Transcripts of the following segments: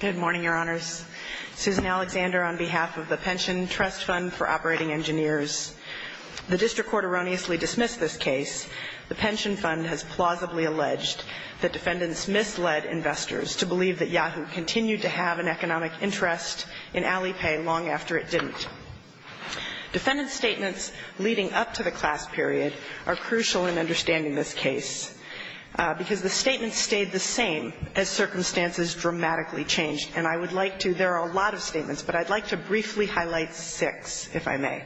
Good morning, Your Honors. Susan Alexander on behalf of the Pension Trust Fund for Operating Engineers. The District Court erroneously dismissed this case. The Pension Fund has plausibly alleged that defendants misled investors to believe that Yahoo! continued to have an economic interest in Alipay long after it didn't. Defendant statements leading up to the class period are crucial in understanding this case because the statements stayed the same as circumstances dramatically changed. And I would like to, there are a lot of statements, but I'd like to briefly highlight six, if I may.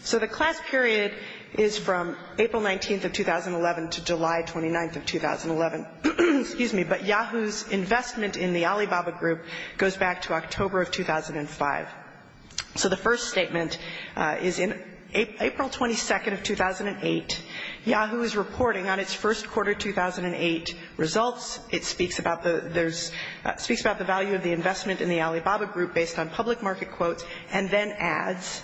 So the class period is from April 19th of 2011 to July 29th of 2011. But Yahoo!'s investment in the Alibaba Group goes back to October of 2005. So the first statement is in April 22nd of 2008. Yahoo! is reporting on its first quarter 2008 results. It speaks about the, there's, speaks about the value of the investment in the Alibaba Group based on public market quotes and then adds,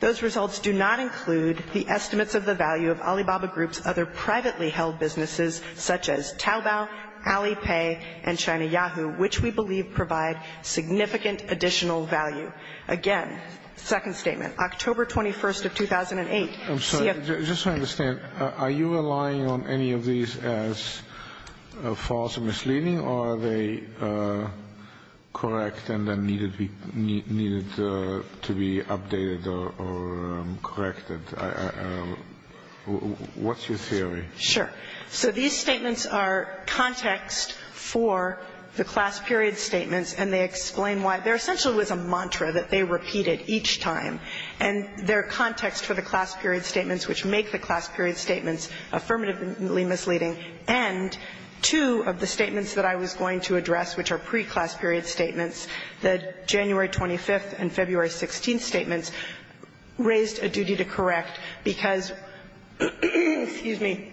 those results do not include the estimates of the value of Alibaba Group's other privately held businesses such as Taobao, Alipay, and China Yahoo!, which we believe provide significant additional value. Again, second statement, October 21st of 2008. I'm sorry, just so I understand, are you relying on any of these as false or misleading or are they correct and then needed to be updated or corrected? What's your theory? Sure. So these statements are context for the class period statements and they explain why there essentially was a mantra that they repeated each time. And they're context for the class period statements, which make the class period statements affirmatively misleading. And two of the statements that I was going to address, which are pre-class period statements, the January 25th and February 16th statements, raised a duty to correct because, excuse me,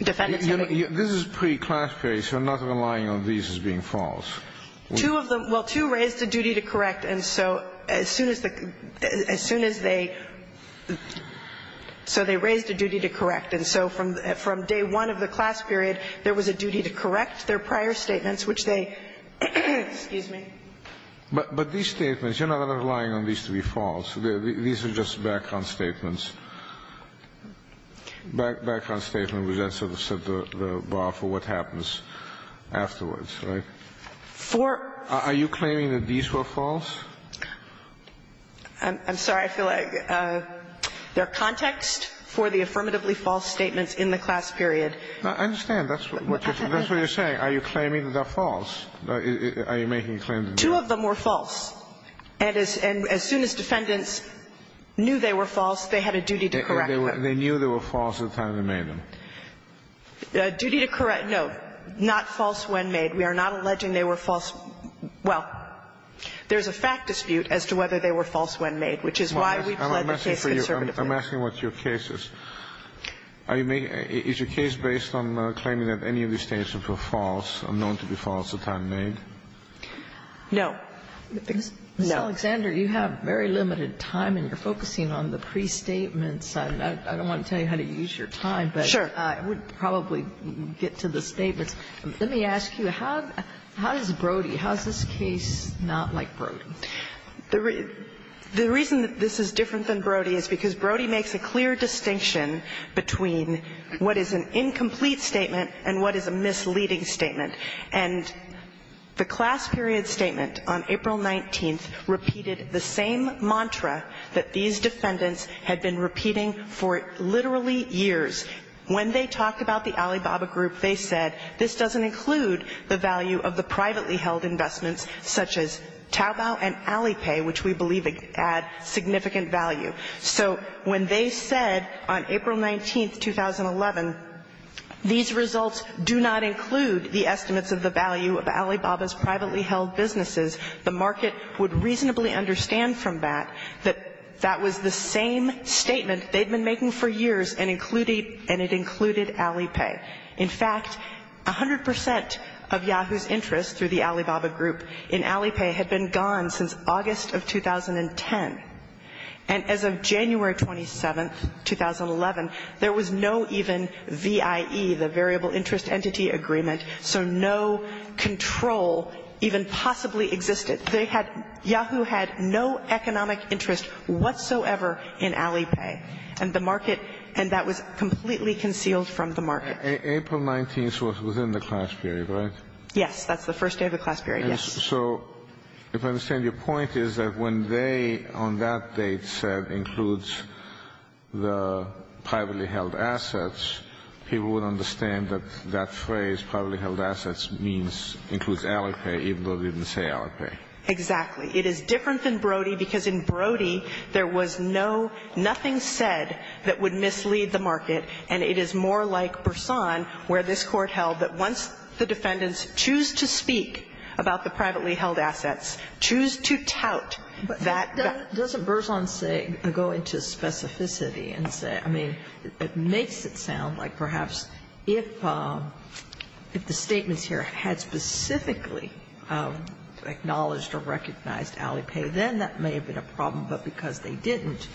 defendants have a duty. This is pre-class period, so you're not relying on these as being false. Two of them, well, two raised a duty to correct. And so as soon as they, so they raised a duty to correct. And so from day one of the class period, there was a duty to correct their prior statements, which they, excuse me. But these statements, you're not relying on these to be false. These are just background statements. Background statements which then sort of set the bar for what happens afterwards. Right? Are you claiming that these were false? I'm sorry. I feel like they're context for the affirmatively false statements in the class period. I understand. That's what you're saying. Are you claiming that they're false? Are you making a claim that they're false? Two of them were false. And as soon as defendants knew they were false, they had a duty to correct them. They knew they were false at the time they made them. A duty to correct. No. Not false when made. We are not alleging they were false. Well, there's a fact dispute as to whether they were false when made, which is why we pled the case conservatively. I'm asking what your case is. Are you making, is your case based on claiming that any of these statements were false or known to be false at the time made? No. Ms. Alexander, you have very limited time and you're focusing on the pre-statements. I don't want to tell you how to use your time. Sure. But I would probably get to the statements. Let me ask you, how does Brody, how is this case not like Brody? The reason that this is different than Brody is because Brody makes a clear distinction between what is an incomplete statement and what is a misleading statement. And the class period statement on April 19th repeated the same mantra that these defendants had been repeating for literally years. When they talked about the Alibaba group, they said this doesn't include the value of the privately held investments such as Taobao and Alipay, which we believe add significant value. So when they said on April 19th, 2011, these results do not include the estimates of the value of Alibaba's privately held businesses, the market would reasonably understand from that that that was the same statement they'd been making for years and it included Alipay. In fact, 100 percent of Yahoo's interest through the Alibaba group in Alipay had been gone since August of 2010. And as of January 27th, 2011, there was no even VIE, the Variable Interest Entity Agreement, so no control even possibly existed. They had – Yahoo had no economic interest whatsoever in Alipay. And the market – and that was completely concealed from the market. April 19th was within the class period, right? Yes. That's the first day of the class period, yes. So if I understand your point is that when they on that date said includes the privately held assets, people would understand that that phrase, privately held assets, means – includes Alipay, even though they didn't say Alipay. Exactly. It is different than Brody because in Brody there was no – nothing said that would mislead the market, and it is more like Berzon where this Court held that once the defendants choose to speak about the privately held assets, choose to tout that – Doesn't Berzon say – go into specificity and say – I mean, it makes it sound like perhaps if the statements here had specifically acknowledged or recognized Alipay, then that may have been a problem, but because they didn't,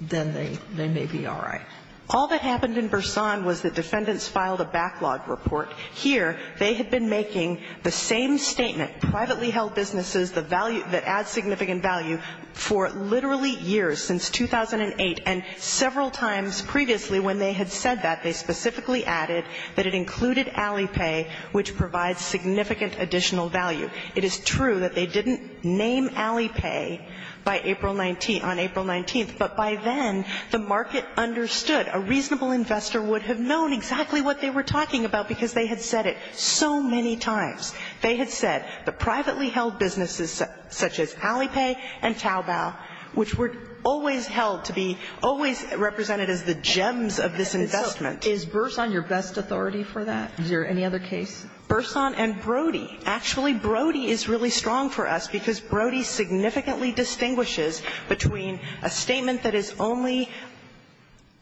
then they may be all right. All that happened in Berzon was the defendants filed a backlog report. Here they had been making the same statement, privately held businesses, the value – that adds significant value for literally years, since 2008, and several times previously when they had said that, they specifically added that it included Alipay, which provides significant additional value. It is true that they didn't name Alipay by April – on April 19th, but by then the market understood. A reasonable investor would have known exactly what they were talking about because they had said it so many times. They had said the privately held businesses such as Alipay and Taobao, which were always held to be – always represented as the gems of this investment. Is Berzon your best authority for that? Is there any other case? Berzon and Brody. Actually, Brody is really strong for us because Brody significantly distinguishes between a statement that is only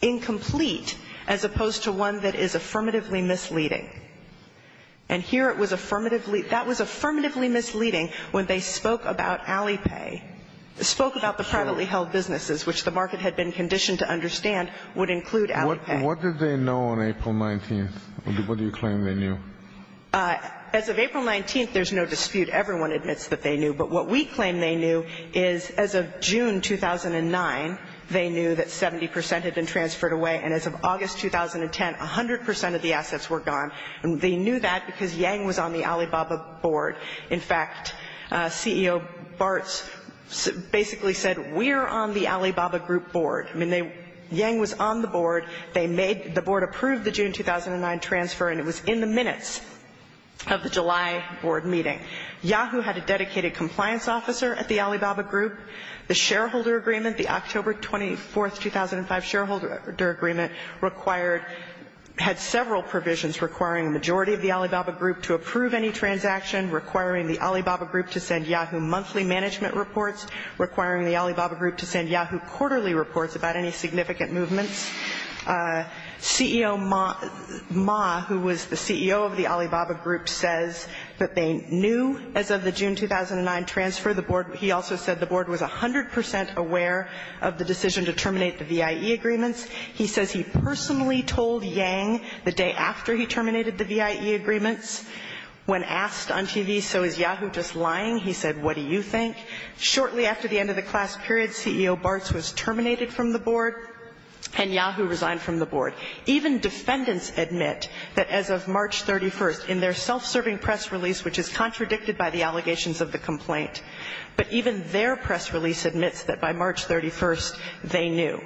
incomplete as opposed to one that is affirmatively misleading. And here it was affirmatively – that was affirmatively misleading when they spoke about Alipay – spoke about the privately held businesses, which the market had been conditioned to understand would include Alipay. What did they know on April 19th? What do you claim they knew? As of April 19th, there's no dispute. Everyone admits that they knew. But what we claim they knew is as of June 2009, they knew that 70 percent had been transferred away. And as of August 2010, 100 percent of the assets were gone. And they knew that because Yang was on the Alibaba board. In fact, CEO Bartz basically said, we're on the Alibaba group board. I mean, Yang was on the board. They made – the board approved the June 2009 transfer, and it was in the minutes of the July board meeting. Yahoo had a dedicated compliance officer at the Alibaba group. The shareholder agreement, the October 24, 2005 shareholder agreement required – had several provisions requiring a majority of the Alibaba group to approve any transaction, requiring the Alibaba group to send Yahoo monthly management reports, requiring the CEO Ma, who was the CEO of the Alibaba group, says that they knew as of the June 2009 transfer. The board – he also said the board was 100 percent aware of the decision to terminate the VIE agreements. He says he personally told Yang the day after he terminated the VIE agreements when asked on TV, so is Yahoo just lying? He said, what do you think? Shortly after the end of the class period, CEO Bartz was terminated from the board. And Yahoo resigned from the board. Even defendants admit that as of March 31st, in their self-serving press release, which is contradicted by the allegations of the complaint, but even their press release admits that by March 31st, they knew.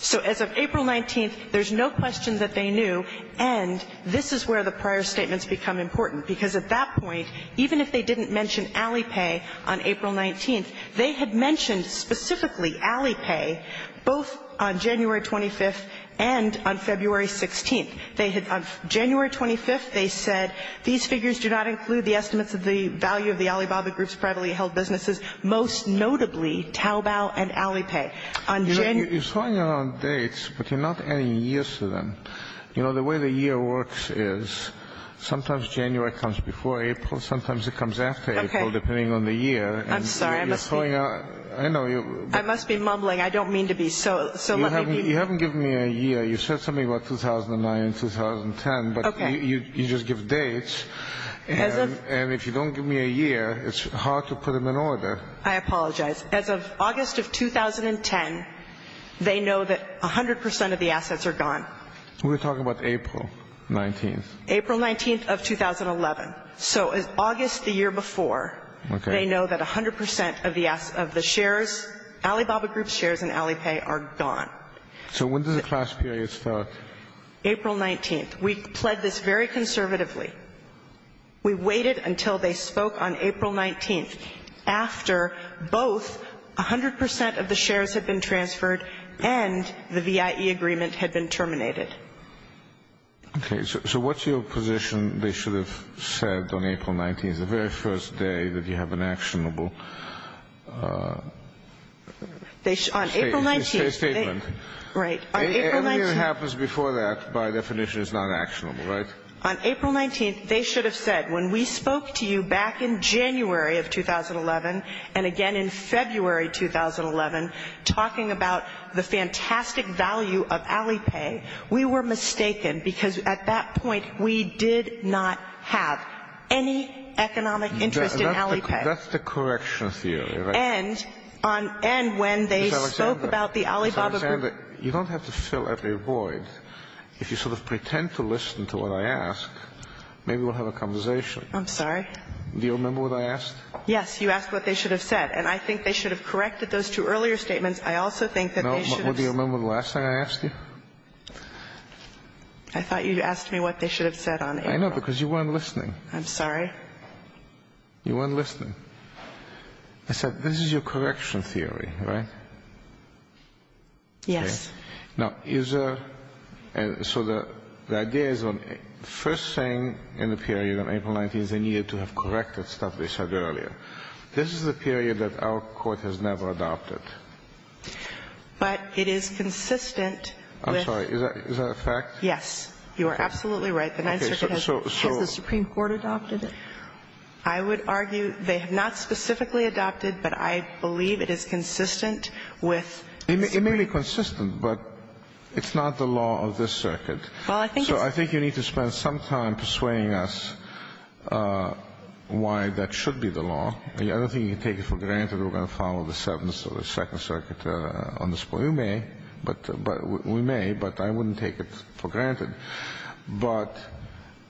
So as of April 19th, there's no question that they knew, and this is where the prior statements become important. Because at that point, even if they didn't mention Alipay on April 19th, they had mentioned specifically Alipay both on January 25th and on February 16th. They had – on January 25th, they said, these figures do not include the estimates of the value of the Alibaba group's privately held businesses, most notably Taobao and Alipay. On January – You're throwing out dates, but you're not adding years to them. You know, the way the year works is sometimes January comes before April, sometimes it comes after April, depending on the year. I'm sorry. I must be – You're throwing out – I know you're – I must be mumbling. I don't mean to be so – so let me be – You haven't given me a year. You said something about 2009 and 2010. Okay. But you just give dates. As of – And if you don't give me a year, it's hard to put them in order. I apologize. As of August of 2010, they know that 100 percent of the assets are gone. We're talking about April 19th. April 19th of 2011. So August the year before, they know that 100 percent of the shares – Alibaba group's shares and Alipay are gone. So when does the class period start? April 19th. We pled this very conservatively. We waited until they spoke on April 19th, after both 100 percent of the shares had been transferred and the VIE agreement had been terminated. Okay. So what's your position they should have said on April 19th, the very first day that you have an actionable statement? Right. Everything that happens before that, by definition, is not actionable, right? On April 19th, they should have said, when we spoke to you back in January of 2011 and again in February 2011, talking about the fantastic value of Alipay, we were mistaken because at that point we did not have any economic interest in Alipay. That's the correction theory, right? And when they spoke about the Alibaba group – Ms. Alexander, you don't have to fill every void. If you sort of pretend to listen to what I ask, maybe we'll have a conversation. I'm sorry? Do you remember what I asked? Yes. You asked what they should have said. And I think they should have corrected those two earlier statements. I also think that they should have – No, but do you remember the last thing I asked you? I thought you asked me what they should have said on April – I know, because you weren't listening. I'm sorry? You weren't listening. I said, this is your correction theory, right? Yes. Now, is – so the idea is, first thing in the period on April 19th is they needed to have corrected stuff they said earlier. This is a period that our Court has never adopted. But it is consistent with – I'm sorry. Is that a fact? Yes. You are absolutely right. The Ninth Circuit has – Okay. So – so – Has the Supreme Court adopted it? I would argue they have not specifically adopted, but I believe it is consistent with – It may be consistent, but it's not the law of this circuit. Well, I think it's – Well, I don't think you can take it for granted we're going to follow the sentence of the Second Circuit on this point. You may, but – we may, but I wouldn't take it for granted. But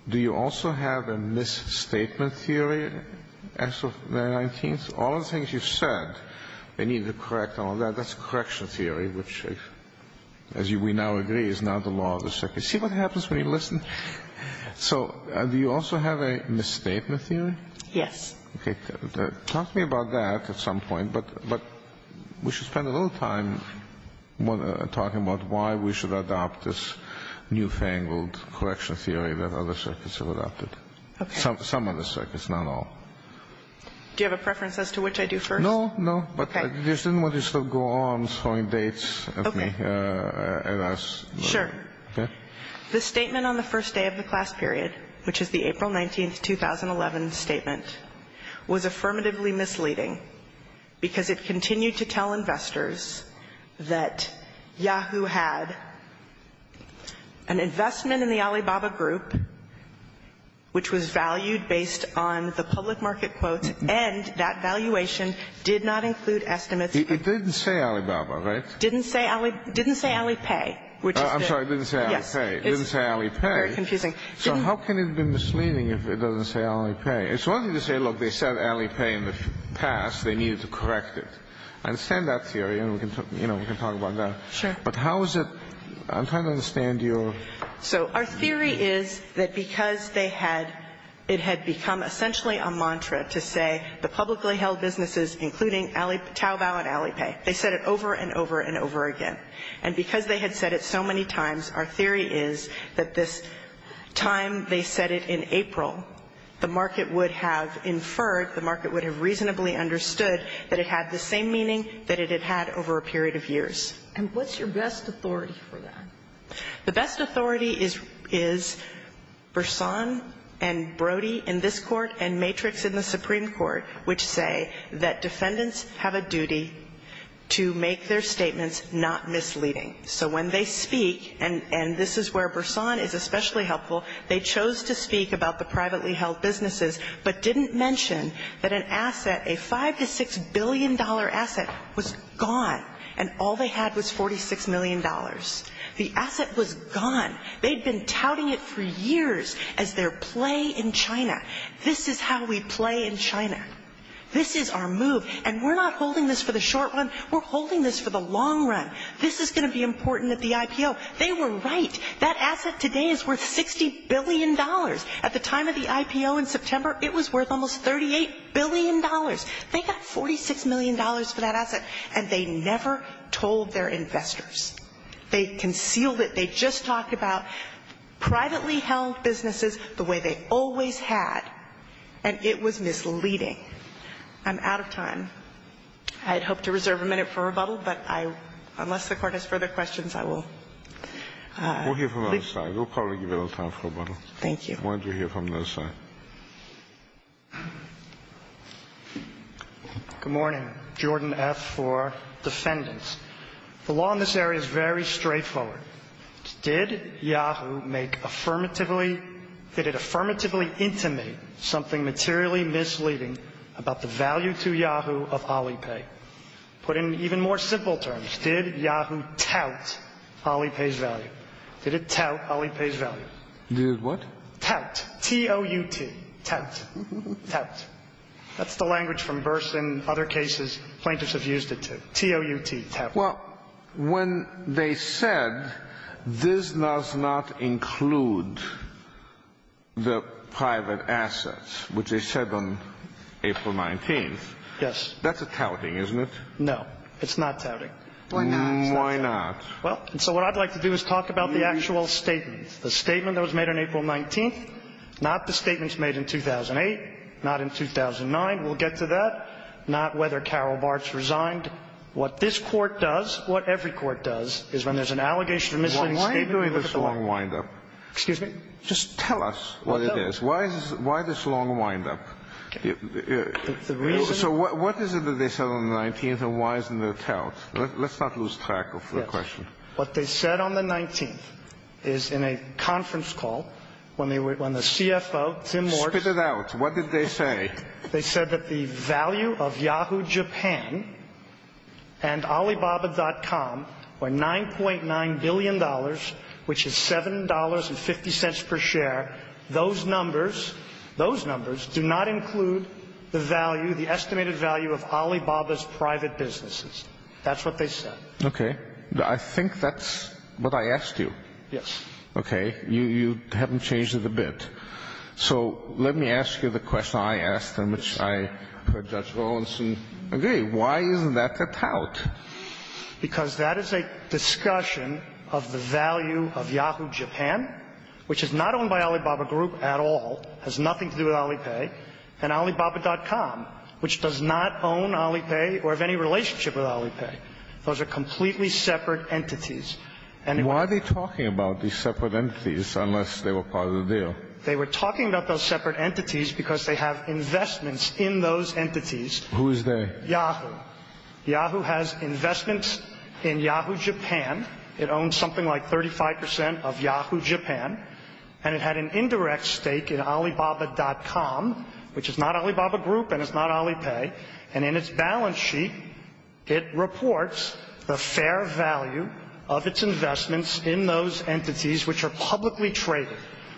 do you also have a misstatement theory as of the 19th? All the things you said they needed to correct and all that, that's a correction theory, which, as we now agree, is not the law of the circuit. See what happens when you listen? So do you also have a misstatement theory? Yes. Okay. Talk to me about that at some point, but – but we should spend a little time talking about why we should adopt this newfangled correction theory that other circuits have adopted. Okay. Some other circuits, not all. Do you have a preference as to which I do first? No, no. Okay. But I just didn't want to go on throwing dates at me. Okay. And ask – Sure. Okay. The statement on the first day of the class period, which is the April 19, 2011 statement, was affirmatively misleading because it continued to tell investors that Yahoo! had an investment in the Alibaba Group, which was valued based on the public market quotes, and that valuation did not include estimates. It didn't say Alibaba, right? Didn't say Ali – didn't say Alipay, which is the – Didn't say Alipay. Very confusing. So how can it be misleading if it doesn't say Alipay? It's one thing to say, look, they said Alipay in the past. They needed to correct it. I understand that theory, and we can talk about that. Sure. But how is it – I'm trying to understand your – So our theory is that because they had – it had become essentially a mantra to say the publicly held businesses, including Taobao and Alipay, they said it over and over and over again. And because they had said it so many times, our theory is that this time they said it in April, the market would have inferred, the market would have reasonably understood that it had the same meaning that it had had over a period of years. And what's your best authority for that? The best authority is – is Bersan and Brody in this Court and Matrix in the Supreme Court, which say that defendants have a duty to make their statements not misleading. So when they speak – and this is where Bersan is especially helpful – they chose to speak about the privately held businesses, but didn't mention that an asset, a $5 to $6 billion asset, was gone, and all they had was $46 million. The asset was gone. They'd been touting it for years as their play in China. This is how we play in China. This is our move. And we're not holding this for the short run. We're holding this for the long run. This is going to be important at the IPO. They were right. That asset today is worth $60 billion. At the time of the IPO in September, it was worth almost $38 billion. They got $46 million for that asset, and they never told their investors. They concealed it. They just talked about privately held businesses the way they always had. And it was misleading. I'm out of time. I had hoped to reserve a minute for rebuttal, but I – unless the Court has further questions, I will leave. We'll hear from the other side. We'll probably give you a little time for rebuttal. Thank you. Why don't you hear from the other side? Good morning. Jordan F. for defendants. The law in this area is very straightforward. Did Yahoo make affirmatively – did it affirmatively intimate something materially misleading about the value to Yahoo of Alipay? Put in even more simple terms, did Yahoo tout Alipay's value? Did it tout Alipay's value? Did what? Tout. T-O-U-T. Tout. Tout. That's the language from Burson, other cases plaintiffs have used it to. T-O-U-T. Tout. Well, when they said this does not include the private assets, which they said on April 19th. Yes. That's a touting, isn't it? No. It's not touting. Why not? Why not? Well, and so what I'd like to do is talk about the actual statement. The statement that was made on April 19th, not the statements made in 2008, not in 2009. We'll get to that. Not whether Carol Bartz resigned. What this court does, what every court does, is when there's an allegation of misleading statement – Why are you doing this long windup? Excuse me? Just tell us what it is. Why this long windup? The reason – So what is it that they said on the 19th and why isn't it a tout? Let's not lose track of the question. What they said on the 19th is in a conference call when the CFO – Spit it out. What did they say? They said that the value of Yahoo! Japan and Alibaba.com were $9.9 billion, which is $7.50 per share. Those numbers do not include the value, the estimated value of Alibaba's private businesses. That's what they said. Okay. I think that's what I asked you. Yes. Okay. You haven't changed it a bit. So let me ask you the question I asked and which I heard Judge Rawlinson agree. Why isn't that a tout? Because that is a discussion of the value of Yahoo! Japan, which is not owned by Alibaba Group at all, has nothing to do with Alipay, and Alibaba.com, which does not own Alipay or have any relationship with Alipay. Those are completely separate entities. Why are they talking about these separate entities unless they were part of the deal? They were talking about those separate entities because they have investments in those entities. Who is they? Yahoo! Yahoo! has investments in Yahoo! Japan. It owns something like 35 percent of Yahoo! Japan, and it had an indirect stake in Alibaba.com, which is not Alibaba Group and is not Alipay, and in its balance sheet it reports the fair value of its investments in those entities which are publicly traded.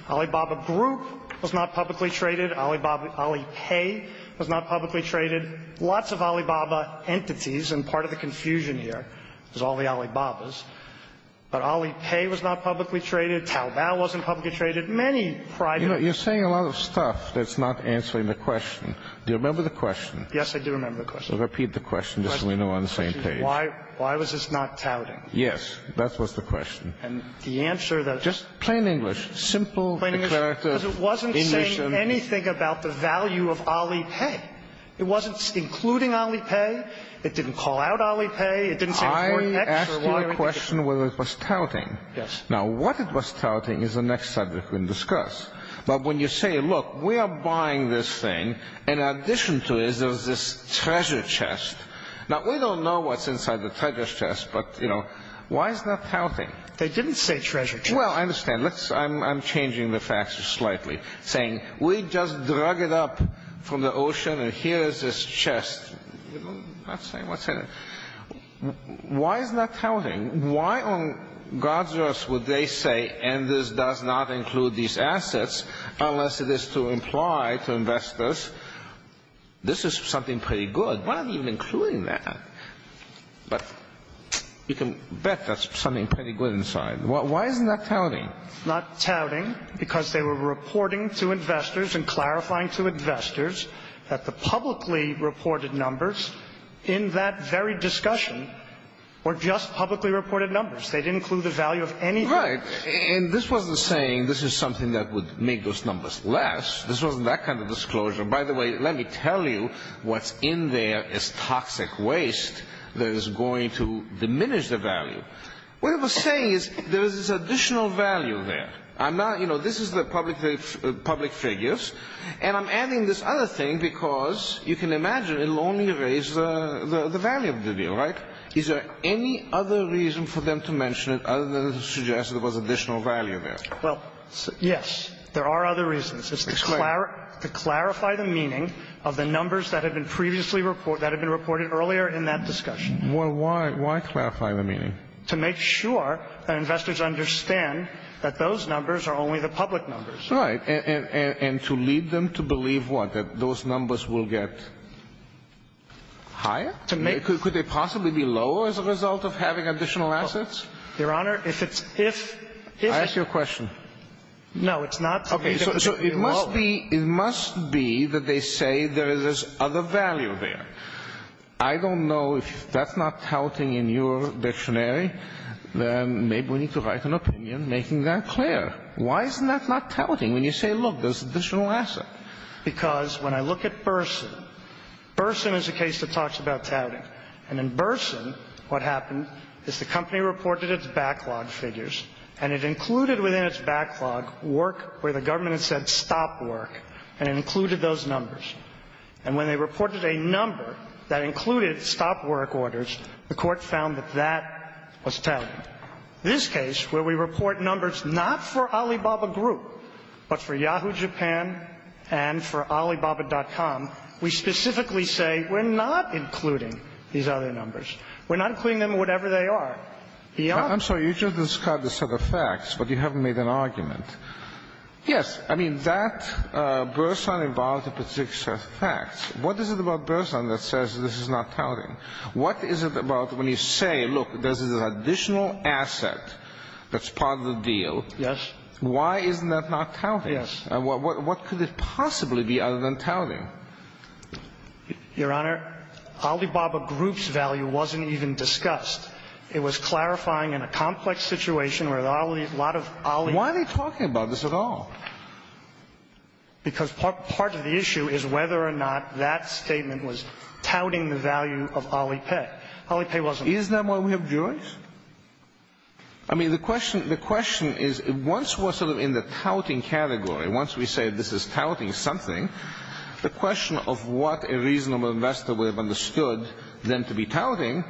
Alibaba Group was not publicly traded. Alipay was not publicly traded. Lots of Alibaba entities, and part of the confusion here is all the Alibabas. But Alipay was not publicly traded. Taobao wasn't publicly traded. Many private entities. You're saying a lot of stuff that's not answering the question. Do you remember the question? Yes, I do remember the question. Repeat the question just so we know we're on the same page. Why was this not touting? Yes. That was the question. And the answer that was... Just plain English. Simple... Because it wasn't saying anything about the value of Alipay. It wasn't including Alipay. It didn't call out Alipay. It didn't say... I asked you a question whether it was touting. Yes. Now, what it was touting is the next subject we're going to discuss. But when you say, look, we are buying this thing, and in addition to it, there's this treasure chest. Now, we don't know what's inside the treasure chest, but, you know, why is that touting? They didn't say treasure chest. Well, I understand. Let's... I'm changing the facts slightly, saying we just drug it up from the ocean, and here is this chest. We're not saying what's in it. Why is that touting? Why on God's earth would they say, and this does not include these assets, unless it is to imply to investors, this is something pretty good? Why are you including that? But you can bet that's something pretty good inside. Why isn't that touting? It's not touting because they were reporting to investors and clarifying to investors that the publicly reported numbers in that very discussion were just publicly reported numbers. They didn't include the value of anything. Right. And this wasn't saying this is something that would make those numbers less. This wasn't that kind of disclosure. By the way, let me tell you what's in there is toxic waste that is going to diminish the value. What it was saying is there is this additional value there. I'm not... You know, this is the public figures, and I'm adding this other thing because you can imagine it will only raise the value of the deal, right? Is there any other reason for them to mention it other than to suggest there was additional value there? Well, yes, there are other reasons. It's to clarify the meaning of the numbers that had been previously reported, that had been reported earlier in that discussion. Why clarify the meaning? To make sure that investors understand that those numbers are only the public numbers. Right. And to lead them to believe what? That those numbers will get higher? To make... Could they possibly be lower as a result of having additional assets? Your Honor, if it's... I ask you a question. No, it's not. Okay. So it must be... It must be that they say there is this other value there. I don't know if that's not touting in your dictionary. Maybe we need to write an opinion making that clear. Why isn't that not touting when you say, look, there's additional asset? Because when I look at Burson, Burson is a case that talks about touting. And in Burson, what happened is the company reported its backlog figures, and it included within its backlog work where the government had said stop work, and it included those numbers. And when they reported a number that included stop work orders, the court found that that was touting. This case, where we report numbers not for Alibaba Group, but for Yahoo Japan and for Alibaba.com, we specifically say we're not including these other numbers. We're not including them in whatever they are. Your Honor... I'm sorry. You just described a set of facts, but you haven't made an argument. Yes, I mean, that Burson involves a particular set of facts. What is it about Burson that says this is not touting? What is it about when you say, look, there's this additional asset that's part of the deal. Yes. Why isn't that not touting? Yes. What could it possibly be other than touting? Your Honor, Alibaba Group's value wasn't even discussed. It was clarifying in a complex situation where a lot of Alibaba... Why are they talking about this at all? Because part of the issue is whether or not that statement was touting the value of Alipay. Alipay wasn't... Isn't that why we have juries? I mean, the question is, once we're sort of in the touting category, once we say this is touting something, the question of what a reasonable investor would have understood them to be touting,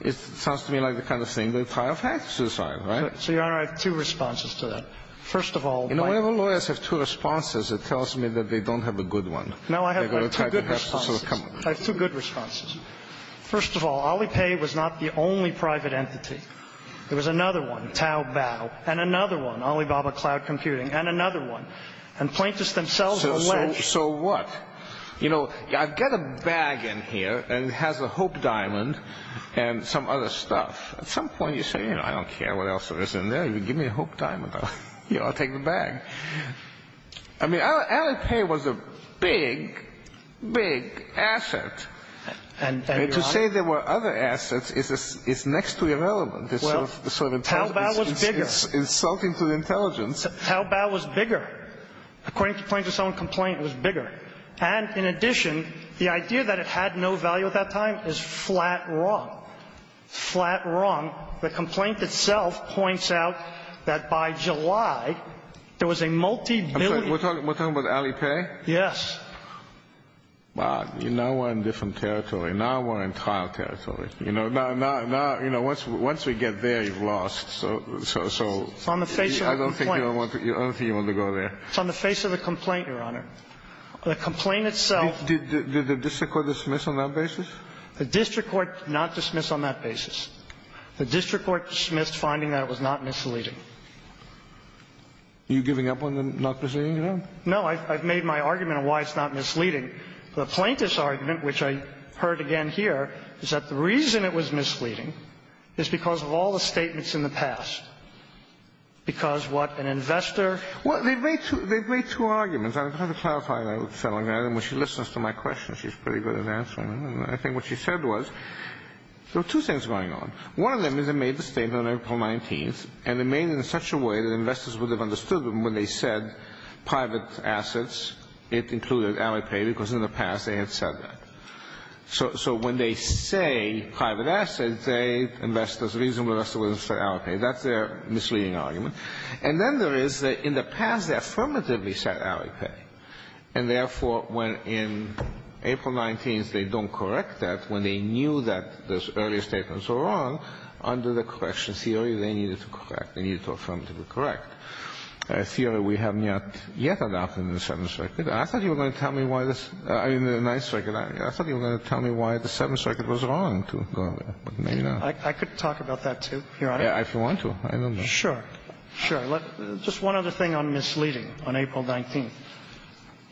it sounds to me like the kind of thing the entire facts are, right? So, Your Honor, I have two responses to that. First of all... Whenever lawyers have two responses, it tells me that they don't have a good one. No, I have two good responses. I have two good responses. First of all, Alipay was not the only private entity. There was another one, Taobao, and another one, Alibaba Cloud Computing, and another one. And plaintiffs themselves are alleged... So what? You know, I've got a bag in here, and it has a Hope Diamond and some other stuff. At some point, you say, you know, I don't care what else there is in there. Give me a Hope Diamond. I'll take the bag. I mean, Alipay was a big, big asset. And, Your Honor. To say there were other assets is next to irrelevant. Well, Taobao was bigger. It's insulting to the intelligence. Taobao was bigger. According to plaintiffs' own complaint, it was bigger. And in addition, the idea that it had no value at that time is flat wrong, flat wrong. The complaint itself points out that by July, there was a multibillion... I'm sorry. We're talking about Alipay? Yes. Now we're in different territory. Now we're in trial territory. You know, once we get there, you've lost. So... It's on the face of the complaint. I don't think you want to go there. It's on the face of the complaint, Your Honor. The complaint itself... Did the district court dismiss on that basis? The district court did not dismiss on that basis. The district court dismissed finding that it was not misleading. Are you giving up on the not misleading, Your Honor? No. I've made my argument on why it's not misleading. The plaintiff's argument, which I heard again here, is that the reason it was misleading is because of all the statements in the past. Because what? An investor... Well, they've made two arguments. I don't know how to clarify that. When she listens to my questions, she's pretty good at answering them. I think what she said was there are two things going on. One of them is it made the statement on April 19th, and it made it in such a way that investors would have understood when they said private assets, it included hourly pay, because in the past they had said that. So when they say private assets, they, investors, the reason investors wouldn't say hourly pay, that's their misleading argument. And then there is that in the past they affirmatively said hourly pay, and therefore when in April 19th they don't correct that, when they knew that those earlier statements were wrong, under the correction theory they needed to correct. They needed to affirmatively correct. A theory we haven't yet adopted in the Seventh Circuit. And I thought you were going to tell me why this, I mean, the Ninth Circuit. I thought you were going to tell me why the Seventh Circuit was wrong to go there, but maybe not. I could talk about that, too, Your Honor. Yeah, if you want to. I don't know. Sure. Sure. Just one other thing on misleading on April 19th.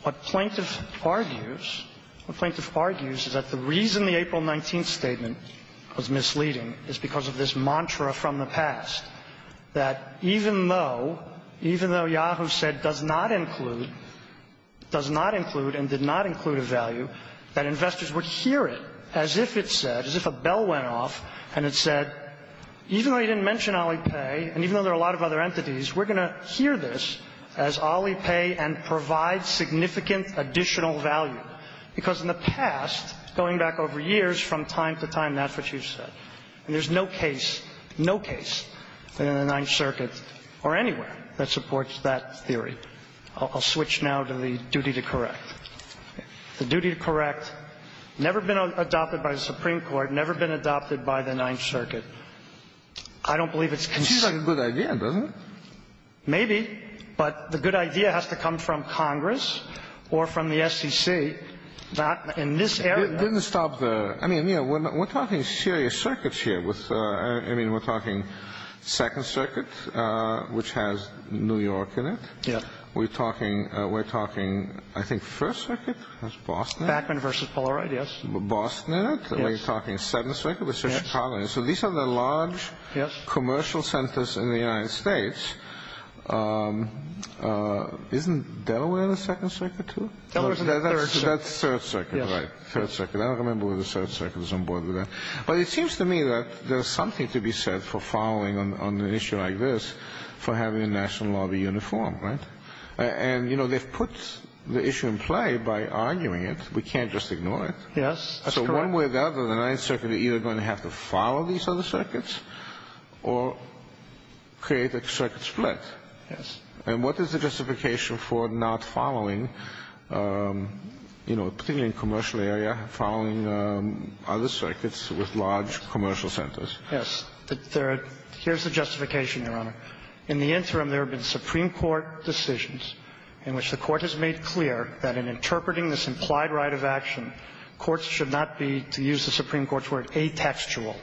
What Plaintiff argues, what Plaintiff argues is that the reason the April 19th statement was misleading is because of this mantra from the past, that even though, even though Yahoo! said does not include, does not include and did not include a value, that investors would hear it as if it said, as if a bell went off and it said, even though you didn't mention Alipay and even though there are a lot of other entities, we're going to hear this as Alipay and provide significant additional value. Because in the past, going back over years from time to time, that's what you said. And there's no case, no case in the Ninth Circuit or anywhere that supports that theory. I'll switch now to the duty to correct. The duty to correct, never been adopted by the Supreme Court, never been adopted by the Ninth Circuit. I don't believe it's consistent. Seems like a good idea, doesn't it? Maybe. But the good idea has to come from Congress or from the SEC. In this area. It didn't stop there. I mean, we're talking serious circuits here. I mean, we're talking Second Circuit, which has New York in it. Yeah. We're talking, I think, First Circuit. That's Boston. Backman v. Polaroid, yes. Boston in it. Yes. We're talking Seventh Circuit. So these are the large commercial centers in the United States. Isn't Delaware in the Second Circuit, too? Delaware's in the Third Circuit. That's Third Circuit, right. Third Circuit. I don't remember whether Third Circuit was on board with that. But it seems to me that there's something to be said for following on an issue like this for having a national lobby uniform, right? And, you know, they've put the issue in play by arguing it. We can't just ignore it. Yes, that's correct. In one way or another, the Ninth Circuit is either going to have to follow these other circuits or create a circuit split. Yes. And what is the justification for not following, you know, particularly in the commercial area, following other circuits with large commercial centers? Yes. Here's the justification, Your Honor. In the interim, there have been Supreme Court decisions in which the Court has made clear that in interpreting this implied right of action, courts should not be, to use the Supreme Court's word, atextual.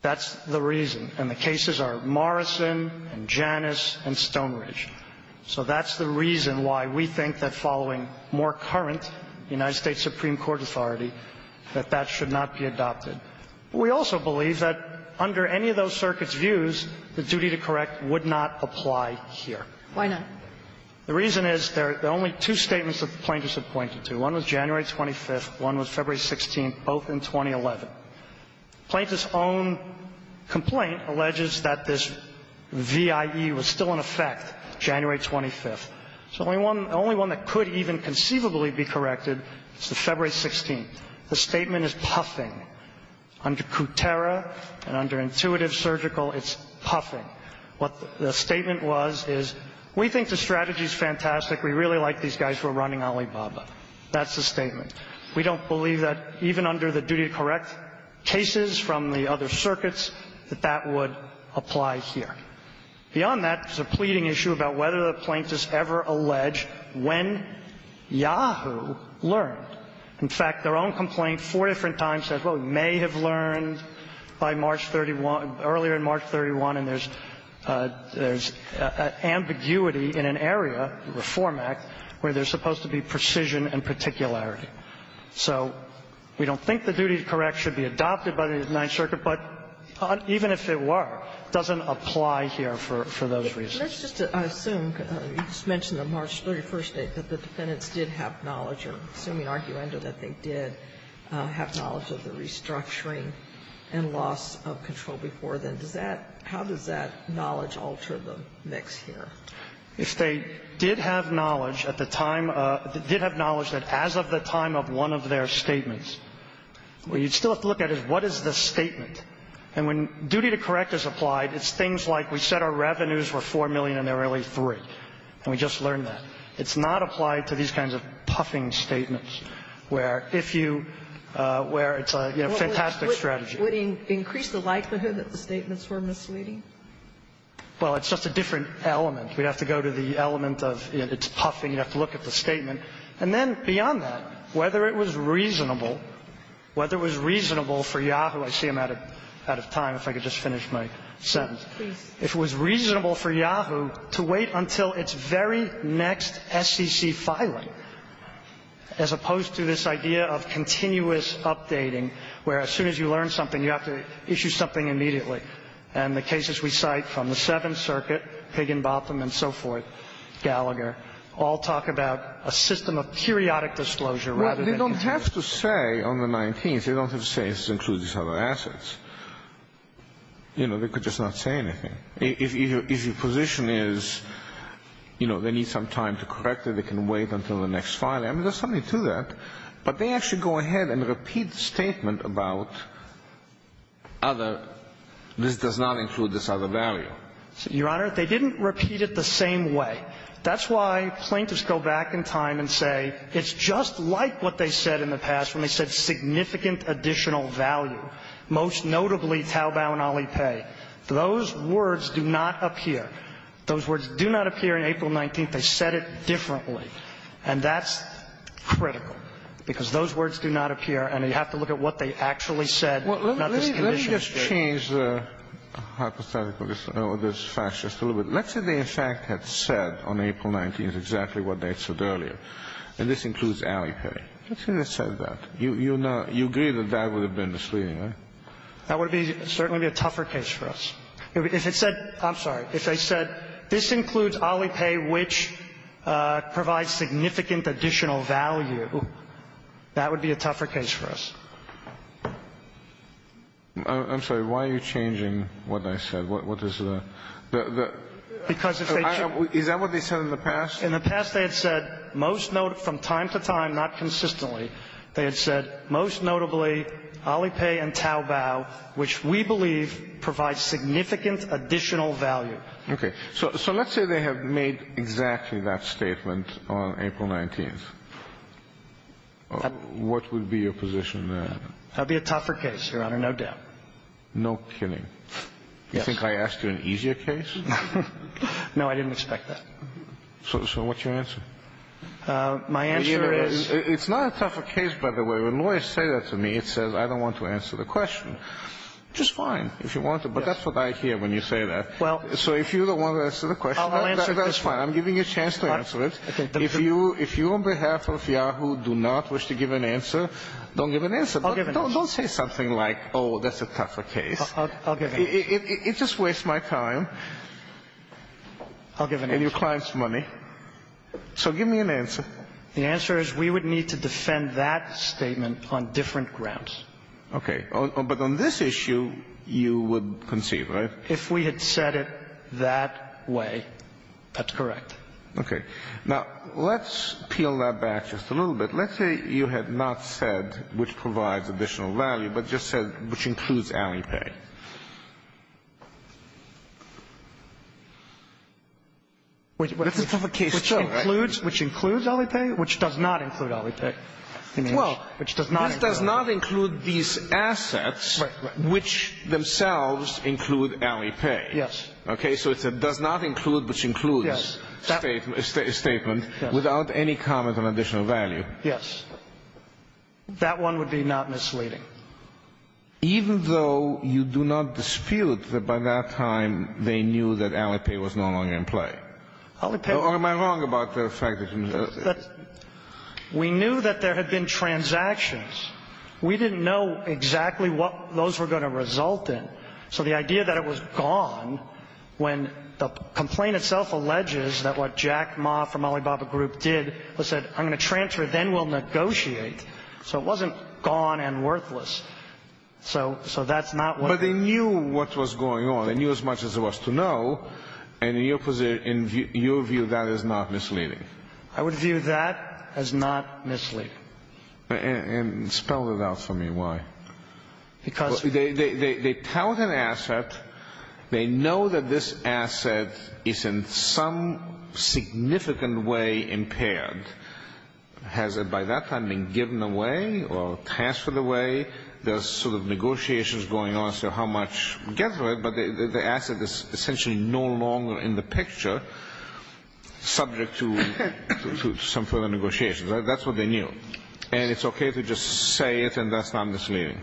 That's the reason. And the cases are Morrison and Janus and Stonebridge. So that's the reason why we think that following more current United States Supreme Court authority, that that should not be adopted. We also believe that under any of those circuits' views, the duty to correct would not apply here. Why not? The reason is there are only two statements that the plaintiffs have pointed to. One was January 25th. One was February 16th, both in 2011. The plaintiff's own complaint alleges that this VIE was still in effect January 25th. The only one that could even conceivably be corrected is the February 16th. The statement is puffing. Under Kutera and under intuitive surgical, it's puffing. What the statement was is we think the strategy is fantastic. We really like these guys. We're running Alibaba. That's the statement. We don't believe that even under the duty to correct cases from the other circuits, that that would apply here. Beyond that, there's a pleading issue about whether the plaintiffs ever allege when Yahoo learned. In fact, their own complaint four different times says, well, we may have learned by March 31, earlier in March 31, and there's ambiguity in an area, the Reform Act, where there's supposed to be precision and particularity. So we don't think the duty to correct should be adopted by the Ninth Circuit, but even if it were, it doesn't apply here for those reasons. Sotomayor, let's just assume, you just mentioned the March 31st date, that the defendants did have knowledge, or assuming arguendo, that they did have knowledge of the restructuring and loss of control before then. Does that, how does that knowledge alter the mix here? If they did have knowledge at the time, did have knowledge that as of the time of one of their statements, what you'd still have to look at is what is the statement. And when duty to correct is applied, it's things like we said our revenues were 4 million and there were only 3, and we just learned that. It's not applied to these kinds of puffing statements where if you, where it's a fantastic strategy. Would it increase the likelihood that the statements were misleading? Well, it's just a different element. We'd have to go to the element of it's puffing. You'd have to look at the statement. And then beyond that, whether it was reasonable, whether it was reasonable for Yahoo, I see I'm out of time. If I could just finish my sentence. Please. If it was reasonable for Yahoo to wait until it's very next SEC filing, as opposed to this idea of continuous updating, where as soon as you learn something, you have to issue something immediately. And the cases we cite from the Seventh Circuit, Higginbotham and so forth, Gallagher, all talk about a system of periodic disclosure. Well, they don't have to say on the 19th. They don't have to say this includes these other assets. You know, they could just not say anything. If your position is, you know, they need some time to correct it, they can wait until the next filing. I mean, there's something to that. But they actually go ahead and repeat the statement about other, this does not include this other value. Your Honor, they didn't repeat it the same way. That's why plaintiffs go back in time and say it's just like what they said in the past when they said significant additional value, most notably Taobao and Alipay. Those words do not appear. Those words do not appear in April 19th. They said it differently. And that's critical, because those words do not appear, and you have to look at what they actually said, not this condition. Kennedy. Let me just change the hypothetical, this fact just a little bit. Let's say they in fact had said on April 19th exactly what they had said earlier. And this includes Alipay. Let's say they said that. You agree that that would have been misleading, right? That would certainly be a tougher case for us. If they said, I'm sorry, if they said this includes Alipay, which provides significant additional value, that would be a tougher case for us. I'm sorry. Why are you changing what I said? What is the – Because if they – Is that what they said in the past? In the past they had said most – from time to time, not consistently, they had said, most notably, Alipay and Taobao, which we believe provide significant additional value. Okay. So let's say they have made exactly that statement on April 19th. What would be your position then? That would be a tougher case, Your Honor, no doubt. No kidding. Yes. You think I asked you an easier case? No, I didn't expect that. So what's your answer? My answer is – It's not a tougher case, by the way. When lawyers say that to me, it says I don't want to answer the question, which is fine if you want to, but that's what I hear when you say that. Well – So if you don't want to answer the question – I'll answer it this way. That's fine. I'm giving you a chance to answer it. If you – if you on behalf of Yahoo do not wish to give an answer, don't give an answer. I'll give an answer. Don't say something like, oh, that's a tougher case. I'll give an answer. It just wastes my time. I'll give an answer. And your client's money. So give me an answer. The answer is we would need to defend that statement on different grounds. Okay. But on this issue, you would concede, right? If we had said it that way, that's correct. Okay. Now, let's peel that back just a little bit. Let's say you had not said which provides additional value, but just said which includes Alipay. That's a tougher case, too, right? Which includes Alipay, which does not include Alipay. Well, this does not include these assets, which themselves include Alipay. Yes. Okay. So it's a does not include, which includes statement without any comment on additional value. Yes. That one would be not misleading. Even though you do not dispute that by that time they knew that Alipay was no longer in play? Or am I wrong about the fact that Alipay? We knew that there had been transactions. We didn't know exactly what those were going to result in. So the idea that it was gone when the complaint itself alleges that what Jack Ma from Alibaba Group did was said, I'm going to transfer, then we'll negotiate. So it wasn't gone and worthless. So that's not what they knew. But they knew what was going on. They knew as much as there was to know. And in your view, that is not misleading. I would view that as not misleading. And spell that out for me. Why? Because they tout an asset. They know that this asset is in some significant way impaired. Has it by that time been given away or transferred away? There's sort of negotiations going on as to how much gets to it. But the asset is essentially no longer in the picture, subject to some further negotiations. That's what they knew. And it's okay to just say it and that's not misleading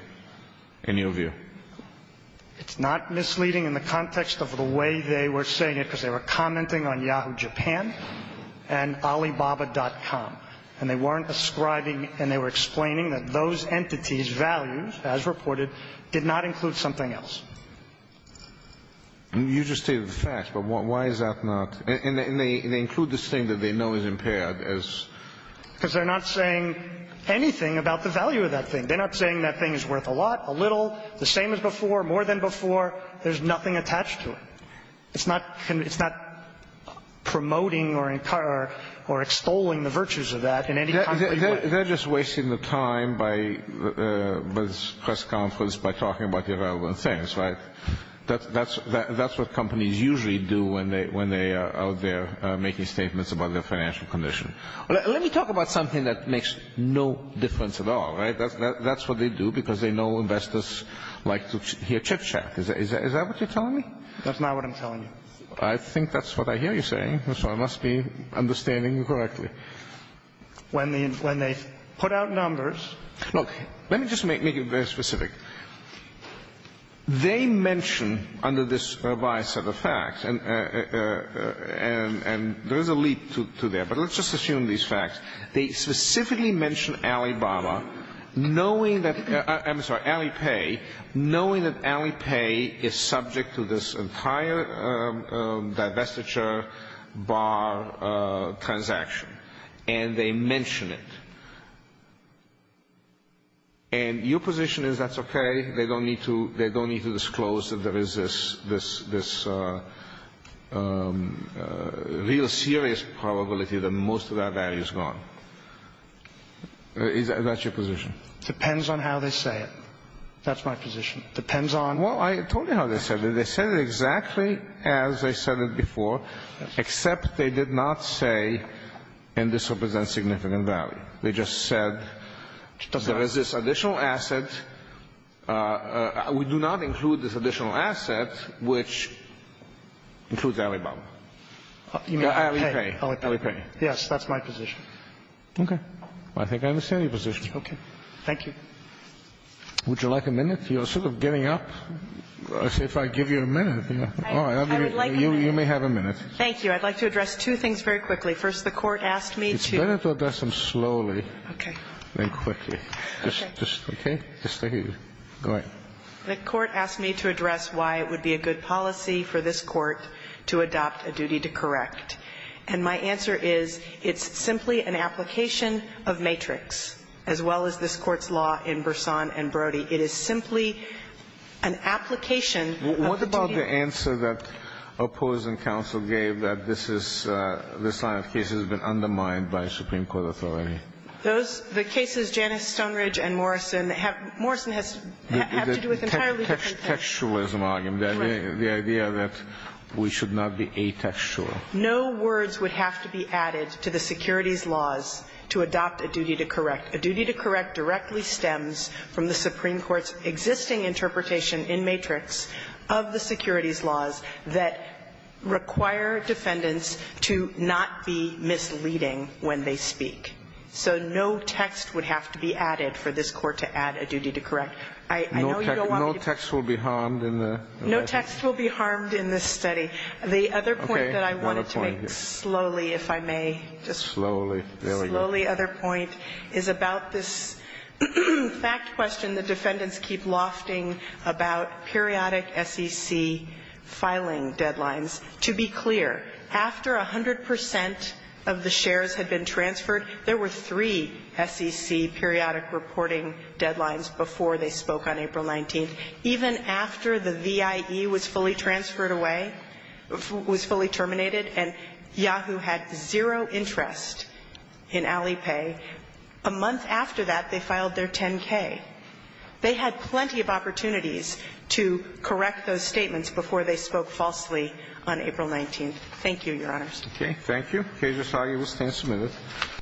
in your view? It's not misleading in the context of the way they were saying it because they were commenting on Yahoo Japan and Alibaba.com. And they weren't ascribing and they were explaining that those entities' values, as reported, did not include something else. You just stated the facts, but why is that not? And they include this thing that they know is impaired as? Because they're not saying anything about the value of that thing. They're not saying that thing is worth a lot, a little, the same as before, more than before. There's nothing attached to it. It's not promoting or extolling the virtues of that in any concrete way. They're just wasting the time by this press conference by talking about irrelevant things, right? That's what companies usually do when they are out there making statements about their financial condition. Let me talk about something that makes no difference at all, right? That's what they do because they know investors like to hear chit-chat. Is that what you're telling me? That's not what I'm telling you. I think that's what I hear you saying, so I must be understanding you correctly. When they put out numbers. Look, let me just make it very specific. They mention under this revised set of facts, and there is a leap to there, but let's just assume these facts. They specifically mention Alibaba, knowing that — I'm sorry, Alipay, knowing that Alipay is subject to this entire divestiture bar transaction. And they mention it. And your position is that's okay, they don't need to disclose that there is this real serious probability that most of that value is gone. Is that your position? Depends on how they say it. That's my position. Depends on — Well, I told you how they said it. They said it exactly as they said it before, except they did not say, and this represents significant value. They just said there is this additional asset. We do not include this additional asset, which includes Alibaba. Alipay. Alipay. Yes, that's my position. Okay. I think I understand your position. Okay. Thank you. Would you like a minute? You're sort of giving up. I say if I give you a minute. All right. I would like a minute. You may have a minute. Thank you. I'd like to address two things very quickly. First, the Court asked me to — It's better to address them slowly — Okay. — than quickly. Okay? Just stay here. Go ahead. The Court asked me to address why it would be a good policy for this Court to adopt a duty to correct. And my answer is, it's simply an application of matrix, as well as this Court's law in Burson and Brody. It is simply an application of duty. What about the answer that opposing counsel gave that this is — this line of cases has been undermined by Supreme Court authority? Those — the cases, Janice Stoneridge and Morrison, have — Morrison has to do with entirely different things. The textualism argument. Right. The idea that we should not be atextual. No words would have to be added to the securities laws to adopt a duty to correct. A duty to correct directly stems from the Supreme Court's existing interpretation in matrix of the securities laws that require defendants to not be misleading when they speak. So no text would have to be added for this Court to add a duty to correct. I know you don't want people — No text will be harmed in the — No text will be harmed in this study. The other point that I wanted to make slowly, if I may, just — Slowly. There we go. The other point is about this fact question that defendants keep lofting about periodic SEC filing deadlines. To be clear, after 100 percent of the shares had been transferred, there were three SEC periodic reporting deadlines before they spoke on April 19th. Even after the VIE was fully transferred away, was fully terminated, and Yahoo! had zero interest in Alipay, a month after that, they filed their 10-K. They had plenty of opportunities to correct those statements before they spoke falsely on April 19th. Thank you, Your Honors. Okay. Thank you. The case is argued. We'll stand submitted.